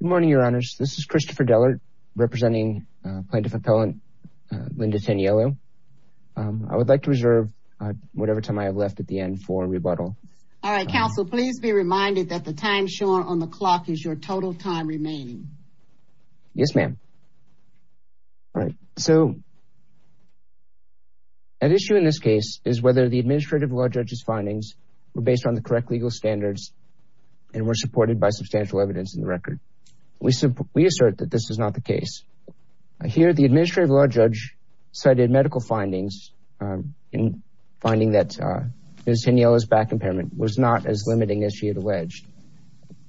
Good morning, Your Honors. This is Christopher Dellert representing Plaintiff Appellant Linda Tanielu. I would like to reserve whatever time I have left at the end for rebuttal. All right, counsel, please be reminded that the time shown on the clock is your total time remaining. Yes, ma'am. All right, so an issue in this case is whether the administrative law judge's findings were based on the correct legal standards and were supported by substantial evidence in the record. We assert that this is not the case. Here, the administrative law judge cited medical findings in finding that Ms. Tanielu's back impairment was not as limiting as she had alleged.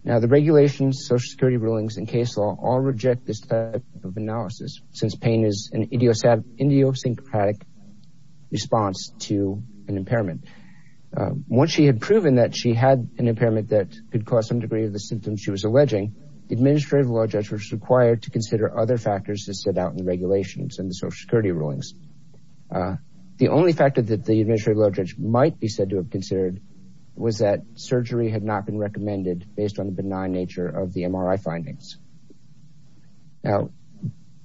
Now, the regulations, social security rulings, and case law all reject this type of analysis since pain is an idiosyncratic response to an impairment. Once she had proven that she had an impairment that could cause some degree of the symptoms she was alleging, the administrative law judge was required to consider other factors that stood out in the regulations and the social security rulings. The only factor that the administrative law judge might be said to have considered was that surgery had not been recommended based on the benign nature of the MRI findings. Now,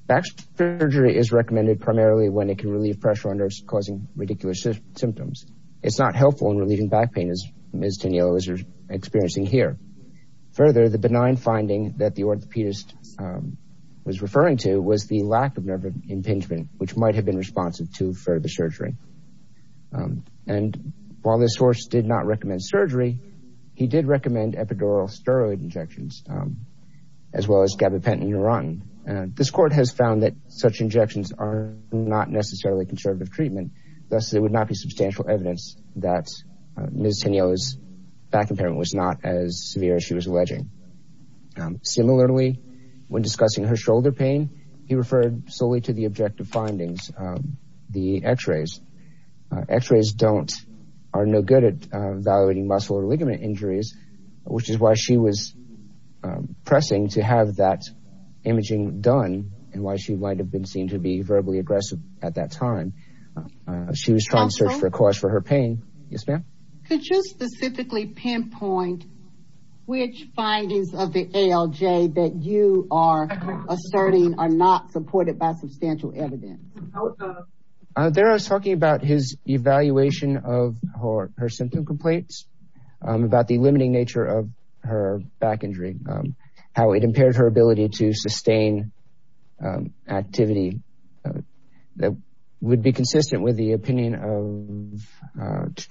back surgery is recommended primarily when it can relieve pressure on nerves causing ridiculous symptoms. It's not helpful in relieving back pain as Ms. Tanielu is experiencing here. Further, the benign finding that the orthopedist was referring to was the lack of nerve impingement, which might have been responsive to further surgery. And while this source did not recommend surgery, he did recommend epidural steroid injections as well as gabapentin and neurontin. This court has found that such injections are not necessarily conservative treatment. Thus, there would not be substantial evidence that Ms. Tanielu's back impairment was not as severe as she was alleging. Similarly, when discussing her shoulder pain, he referred solely to the objective findings, the x-rays. X-rays are no good at evaluating muscle or ligament injuries, which is why she was pressing to have that imaging done and why she might have been seen to be verbally aggressive at that time. She was trying to search for a cause for her pain. Yes, ma'am. Could you specifically pinpoint which findings of the ALJ that you are asserting are not supported by substantial evidence? There I was talking about his evaluation of her symptom complaints, about the limiting nature of her back injury, how it impaired her ability to sustain activity that would be consistent with the opinion of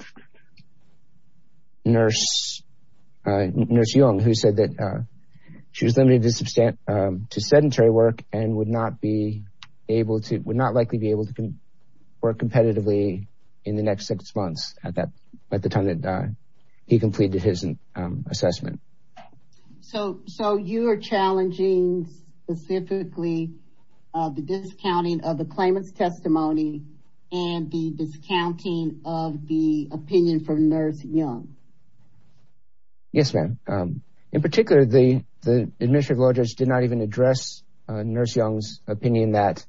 Nurse Young, who said that she was limited to sedentary work and would not likely be able to work competitively in the next six months at the time that he completed his assessment. So, you are challenging specifically the discounting of the claimant's testimony and the discounting of the opinion from Nurse Young? Yes, ma'am. In particular, the administrative law judge did not even address Nurse Young's opinion that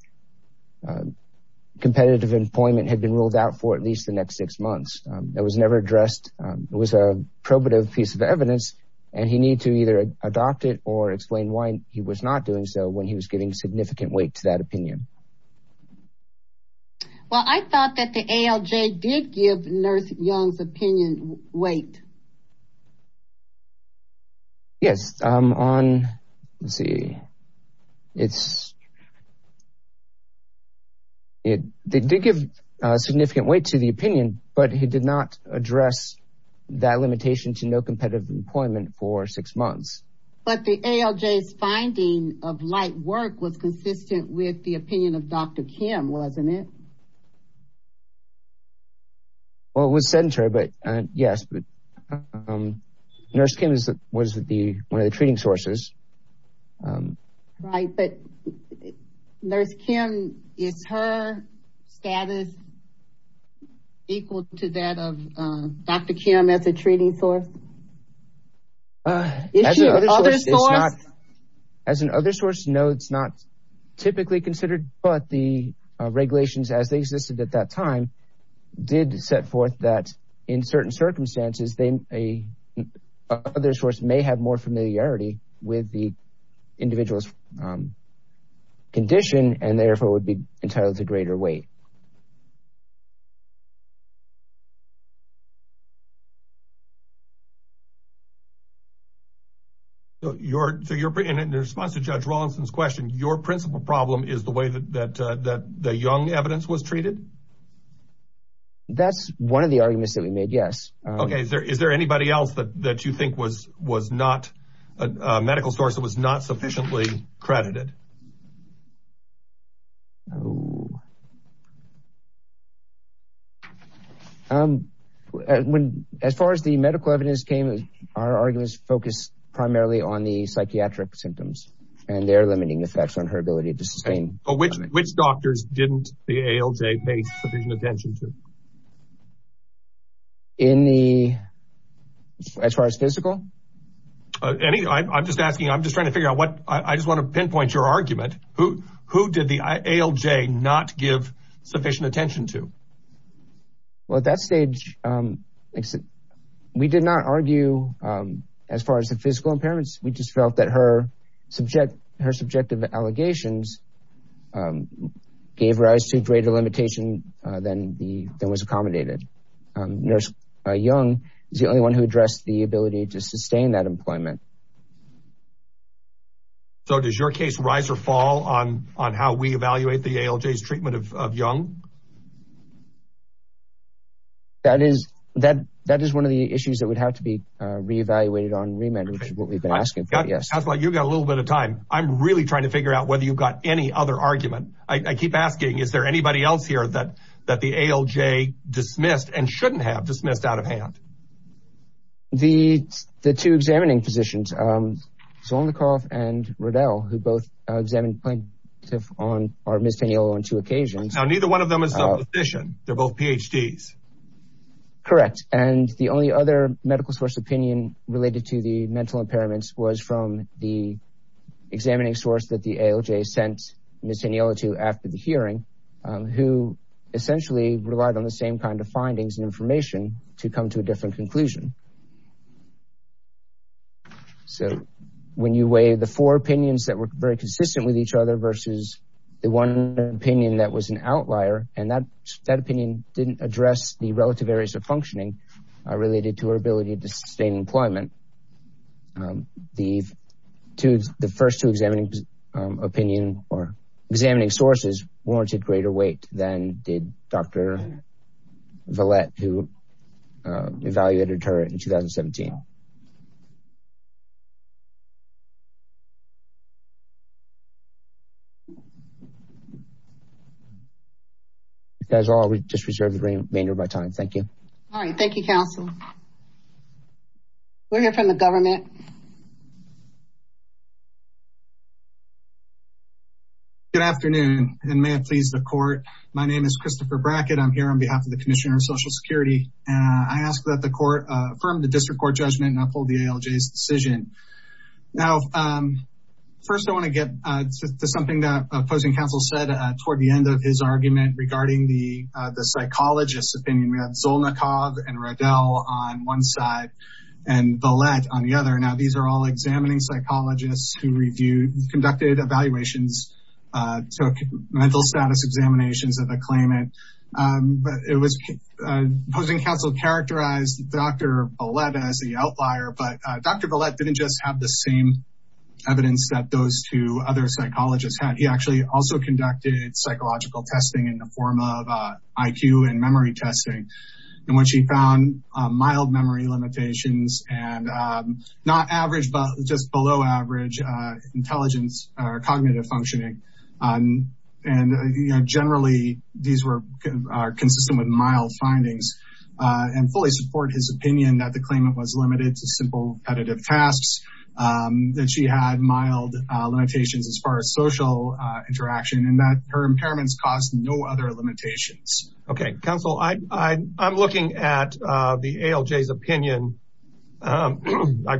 competitive employment had been ruled out for at least the next six months. That was never addressed. It was a probative piece of evidence and he needed to either adopt it or explain why he was not doing so when he was giving significant weight to that opinion. Well, I thought that the ALJ did give Nurse Young's opinion weight. Yes, on, let's see, it did give significant weight to the opinion, but he did not address that limitation to no competitive employment for six months. But the ALJ's finding of light work was consistent with the opinion of Dr. Kim, wasn't it? Well, it was sedentary, but yes, but Nurse Kim was one of the treating sources. Right, but Nurse Kim, is her status equal to that of Dr. Kim as a treating source? As an other source, no, it's not typically considered, but the regulations as they existed at that time did set forth that in certain circumstances, a other source may have more familiarity with the individual's condition and therefore would be entitled to more information. So, in response to Judge Rawlinson's question, your principal problem is the way that the Young evidence was treated? That's one of the arguments that we made, yes. Okay, is there anybody else that you think was not a medical source that was not sufficiently credited? As far as the medical evidence came, our arguments focused primarily on the psychiatric symptoms, and their limiting effects on her ability to sustain. But which doctors didn't the ALJ pay sufficient attention to? In the, as far as physical? Any, I'm just asking, I'm just trying to figure out what, I just want to pinpoint your argument, who did the ALJ not give sufficient attention to? Well, at that stage, we did not argue as far as the physical impairments, we just felt that her subjective allegations gave rise to greater limitation than was accommodated. Nurse Young is the only one who addressed the ability to sustain that employment. So, does your case rise or fall on how we evaluate the ALJ's treatment of Young? That is, that is one of the issues that would have to be re-evaluated on remand, which is what we've been asking for, yes. That's why you've got a little bit of time. I'm really trying to figure out whether you've got any other argument. I keep asking, is there anybody else here that the ALJ dismissed and shouldn't have dismissed out of hand? The, the two examining physicians, Zolnikov and Riddell, who both examined plaintiff on, or Ms. Teniello on two occasions. Now, neither one of them is a physician, they're both PhDs. Correct. And the only other medical source opinion related to the mental impairments was from the examining source that the ALJ sent Ms. Teniello to after the hearing, who essentially relied on the same kind of findings and information to come to a different conclusion. So, when you weigh the four opinions that were very consistent with each other versus the one opinion that was an outlier, and that, that opinion didn't address the relative areas of functioning related to our ability to sustain employment. The two, the first two examining opinion or examining sources warranted greater weight than did Dr. Villette, who evaluated her in 2017. You guys all just reserve the remainder of my time. Thank you. All right. Thank you, counsel. We'll hear from the government. Good afternoon. And may it please the court. My name is Christopher Brackett. I'm here on behalf of the Commissioner of Social Security. And I ask that the court affirm the district court judgment and uphold the ALJ's decision. Now, first, I want to get to something that opposing counsel said toward the end of his argument regarding the, the psychologist's opinion. We have Zolnikov and Rodel on one side and Villette on the other. Now, these are all examining psychologists who reviewed, conducted evaluations, took mental status examinations of a claimant. But it was, opposing counsel characterized Dr. Villette as the outlier, but Dr. Villette didn't just have the same evidence that those two other psychologists had. He actually also conducted psychological testing in the form of IQ and memory testing, in which he found mild memory limitations and not average, but just below average intelligence or cognitive functioning. And generally these were consistent with mild findings and fully support his opinion that the claimant was limited to simple repetitive tasks, that she had mild limitations as far as social interaction and that her impairments caused no other limitations. Okay. Counsel, I, I, I'm looking at the ALJ's opinion. I've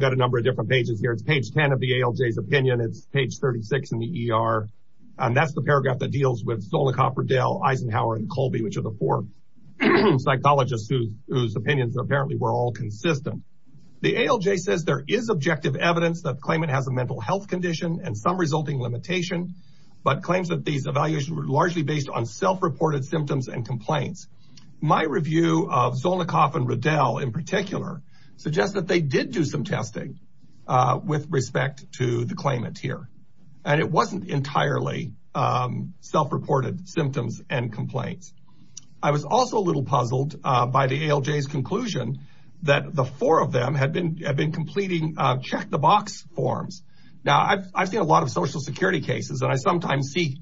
got a number of different pages here. It's page 10 of the ALJ's opinion. It's page 36 in the ER, and that's the paragraph that deals with Zolnikov, Rodel, Eisenhower and Colby, which are the four psychologists whose opinions apparently were all consistent. The ALJ says there is objective evidence that claimant has a mental health condition and some resulting limitation, but claims that these evaluations were largely based on self-reported symptoms and complaints. My review of Zolnikov and Rodel in particular suggests that they did do some testing with respect to the claimant here, and it wasn't entirely self-reported symptoms and complaints. I was also a little puzzled by the ALJ's conclusion that the four of them had been, had been completing check the box forms. Now I've, I've seen a lot of social security cases and I sometimes see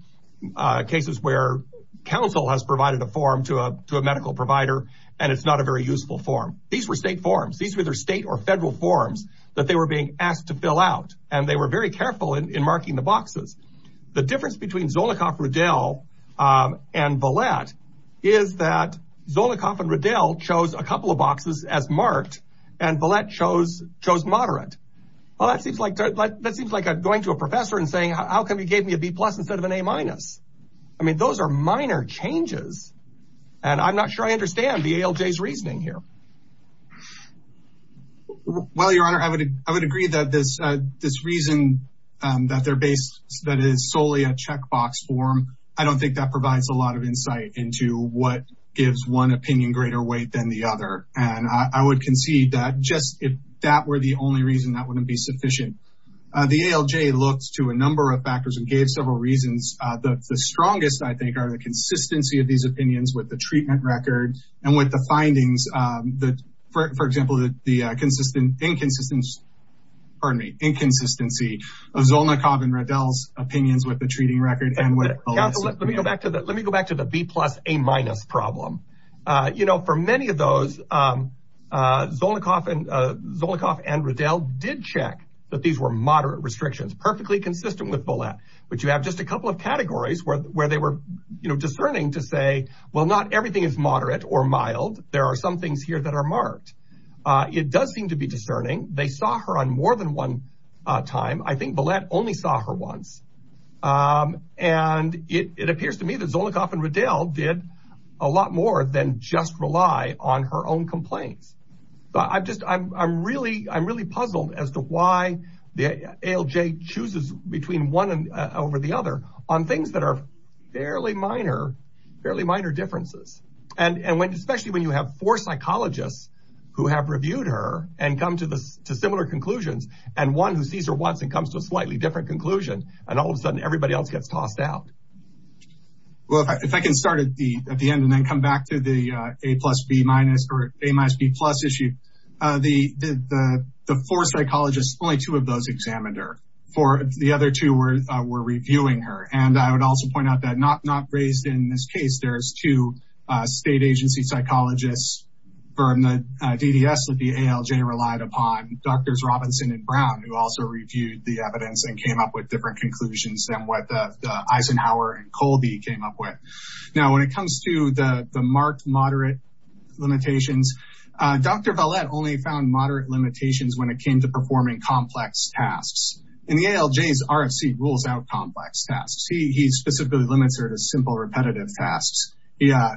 cases where counsel has provided a form to a, to a medical provider and it's not a very useful form. These were state forms. These were either state or federal forms that they were being asked to fill out and they were very careful in marking the boxes. The difference between Zolnikov, Rodel and Vallette is that Zolnikov and Rodel chose a couple of boxes as marked and Vallette chose, chose moderate. Well, that seems like, that seems like going to a professor and saying, how come you gave me a B plus instead of an A minus? I mean, those are minor changes and I'm not sure I understand the ALJ's reasoning here. Well, your honor, I would, I would agree that this, this reason that they're based, that is solely a check box form. I don't think that provides a lot of insight into what gives one opinion greater weight than the other. And I would concede that just if that were the only reason that wouldn't be sufficient. The ALJ looked to a number of factors and gave several reasons. The strongest, I think, are the consistency of these opinions with the treatment record and with the findings that, for example, the consistent, inconsistency, pardon me, inconsistency of Zolnikov and Rodel's opinions with the treating record and with Vallette's. Let me go back to the, let me go back to the B plus, A minus problem. You know, for many of those Zolnikov and Rodel did check that these were moderate restrictions, perfectly consistent with Vallette, but you have just a couple of categories where they were discerning to say, well, not everything is moderate or mild. There are some things here that are marked. It does seem to be discerning. They saw her on more than one time. I think Vallette only saw her once. Um, and it, it appears to me that Zolnikov and Rodel did a lot more than just rely on her own complaints. But I've just, I'm, I'm really, I'm really puzzled as to why the ALJ chooses between one over the other on things that are fairly minor, fairly minor differences. And, and when, especially when you have four psychologists who have reviewed her and come to the, to similar conclusions and one who sees her once and comes to a slightly different conclusion and all of a sudden everybody else gets tossed out. Well, if I can start at the, at the end and then come back to the, uh, A plus B minus or A minus B plus issue, uh, the, the, the four psychologists, only two of those examined her for the other two were, uh, were reviewing her. And I would also point out that not, not raised in this case, there's two, uh, state agency psychologists from the, uh, DDS that the ALJ relied upon. Doctors Robinson and Brown, who also reviewed the evidence and came up with different conclusions than what the Eisenhower and Colby came up with. Now, when it comes to the, the marked moderate limitations, uh, Dr. Valette only found moderate limitations when it came to performing complex tasks. And the ALJ's RFC rules out complex tasks. He, he specifically limits her to simple repetitive tasks. Yeah,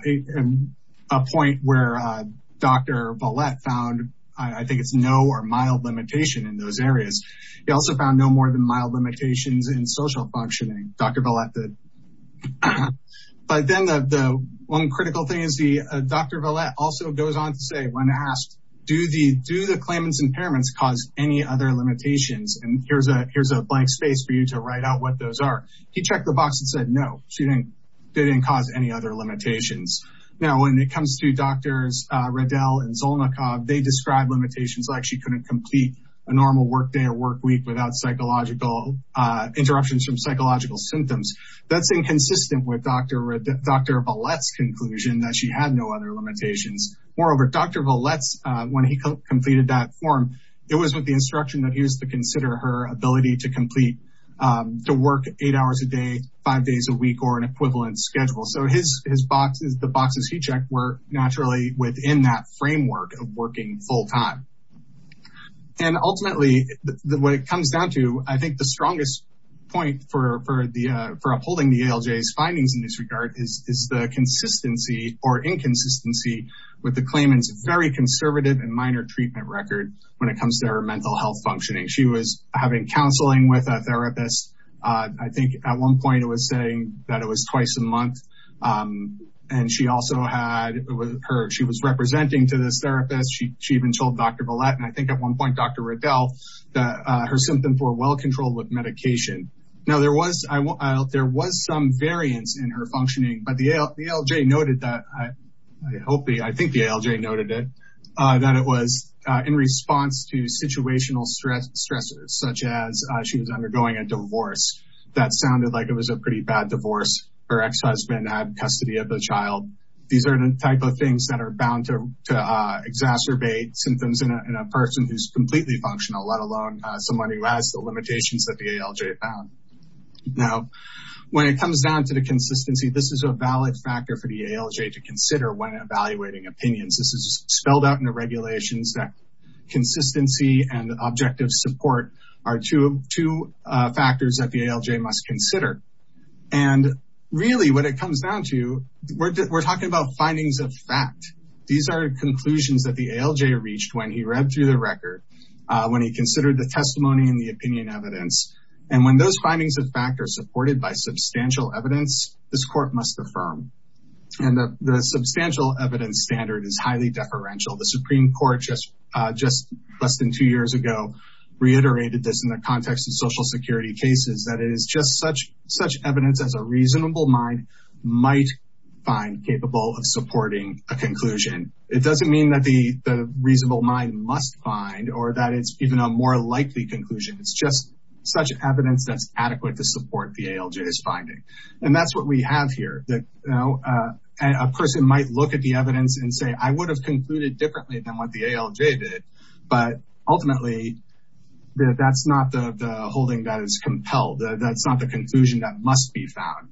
a point where, uh, Dr. Valette found, I think it's no or mild limitation in those areas. He also found no more than mild limitations in social functioning. Dr. Valette did. But then the, the one critical thing is the, uh, Dr. Valette also goes on to say, when asked, do the, do the claimant's impairments cause any other limitations? And here's a, here's a blank space for you to write out what those are. He checked the box and said, no, she didn't. They didn't cause any other limitations. Now, when it comes to doctors, uh, Riddell and Zolnikov, they described limitations like she couldn't complete a normal work day or work week without psychological, uh, interruptions from psychological symptoms. That's inconsistent with Dr. Riddell, Dr. Valette's conclusion that she had no other limitations. Moreover, Dr. Valette's, uh, when he completed that form, it was with the instruction that he was to consider her ability to complete, um, to work eight hours a day, five days a month schedule. So his, his boxes, the boxes he checked were naturally within that framework of working full time. And ultimately what it comes down to, I think the strongest point for, for the, uh, for upholding the ALJ's findings in this regard is, is the consistency or inconsistency with the claimant's very conservative and minor treatment record when it comes to her mental health functioning. She was having counseling with a therapist. Uh, I think at one point it was saying that it was twice a month. Um, and she also had her, she was representing to this therapist. She, she even told Dr. Valette. And I think at one point, Dr. Riddell, that, uh, her symptoms were well controlled with medication. Now there was, there was some variance in her functioning, but the ALJ noted that, I hope, I think the ALJ noted it, uh, that it was, uh, in response to situational stress, stressors, such as, uh, she was undergoing a divorce that sounded like it was a pretty bad divorce. Her ex-husband had custody of the child. These are the type of things that are bound to, to, uh, exacerbate symptoms in a, in a person who's completely functional, let alone, uh, someone who has the limitations that the ALJ found. Now, when it comes down to the consistency, this is a valid factor for the ALJ to consider when evaluating opinions. This is spelled out in the regulations that consistency and objective support are two, two, uh, factors that the ALJ must consider. And really what it comes down to, we're, we're talking about findings of fact. These are conclusions that the ALJ reached when he read through the record, uh, when he considered the testimony and the opinion evidence. And when those findings of fact are supported by substantial evidence, this court must affirm. And the, the substantial evidence standard is highly deferential. The Supreme Court just, uh, just less than two years ago, reiterated this in the context of social security cases, that it is just such, such evidence as a reasonable mind might find capable of supporting a conclusion. It doesn't mean that the, the reasonable mind must find, or that it's even a more likely conclusion. It's just such evidence that's adequate to support the ALJ's finding. And that's what we have here that, you know, uh, a person might look at the evidence and say, I would have concluded differently than what the ALJ did, but ultimately that that's not the, the holding that is compelled. That's not the conclusion that must be found.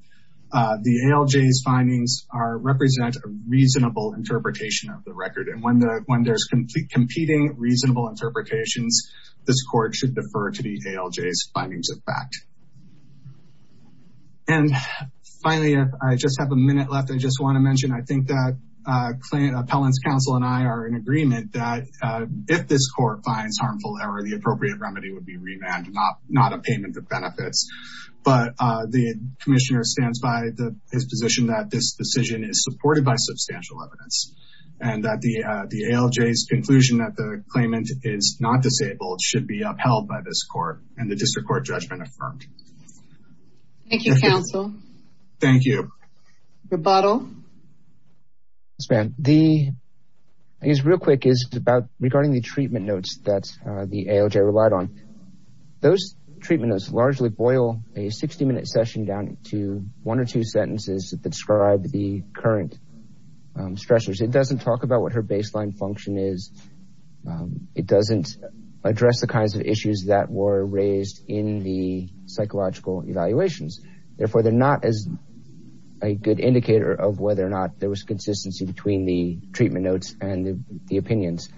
Uh, the ALJ's findings are, represent a reasonable interpretation of the record. And when the, when there's complete competing reasonable interpretations, this court should defer to the ALJ's findings of fact. And finally, I just have a minute left. I just want to mention, I think that, uh, Appellant's counsel and I are in agreement that, uh, if this court finds harmful error, the appropriate remedy would be revamped, not, not a payment of benefits. But, uh, the commissioner stands by the, his position that this decision is supported by substantial evidence and that the, uh, the ALJ's conclusion that the claimant is not disabled should be upheld by this court and the district court judgment affirmed. Thank you, counsel. Thank you. Rebuttal. Yes, ma'am. The, I guess real quick is about regarding the treatment notes that, uh, the ALJ relied on. Those treatment notes largely boil a 60 minute session down to one or two sentences that describe the current, um, stressors. It doesn't talk about what her baseline function is. Um, it doesn't address the kinds of issues that were raised in the psychological evaluations. Therefore, they're not as a good indicator of whether or not there was consistency between the treatment notes and the opinions.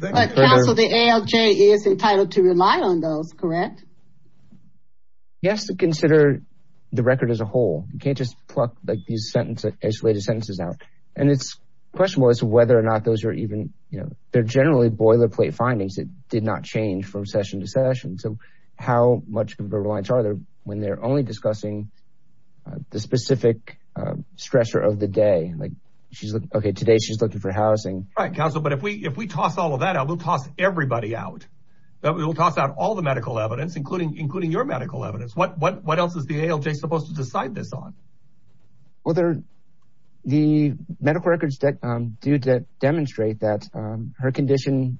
But counsel, the ALJ is entitled to rely on those, correct? Yes, to consider the record as a whole. You can't just pluck like these sentences, isolated sentences out. And it's questionable as to whether or not those are even, you know, they're generally boilerplate findings. It did not change from session to session. So how much of a reliance are there when they're only discussing the specific, um, stressor of the day? Like she's like, okay, today she's looking for housing. Right. Counsel, but if we, if we toss all of that out, we'll toss everybody out. We'll toss out all the medical evidence, including, including your medical evidence. What, what, what else is the ALJ supposed to decide this on? Well, there, the medical records that, um, do demonstrate that, um, her condition,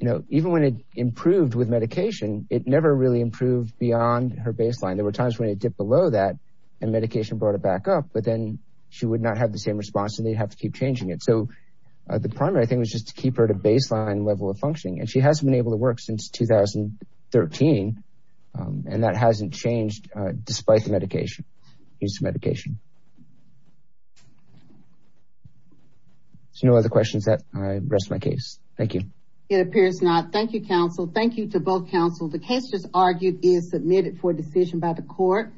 you know, even when it improved with medication, it never really improved beyond her baseline. There were times when it dipped below that and medication brought it back up, but then she would not have the same response and they'd have to keep changing it. So, uh, the primary thing was just to keep her at a baseline level of functioning. And she hasn't been able to work since 2013. Um, and that hasn't changed, uh, despite the medication. Use of medication. So no other questions that I rest my case. Thank you. It appears not. Thank you, counsel. Thank you to both counsel. The case just argued is submitted for decision by the court.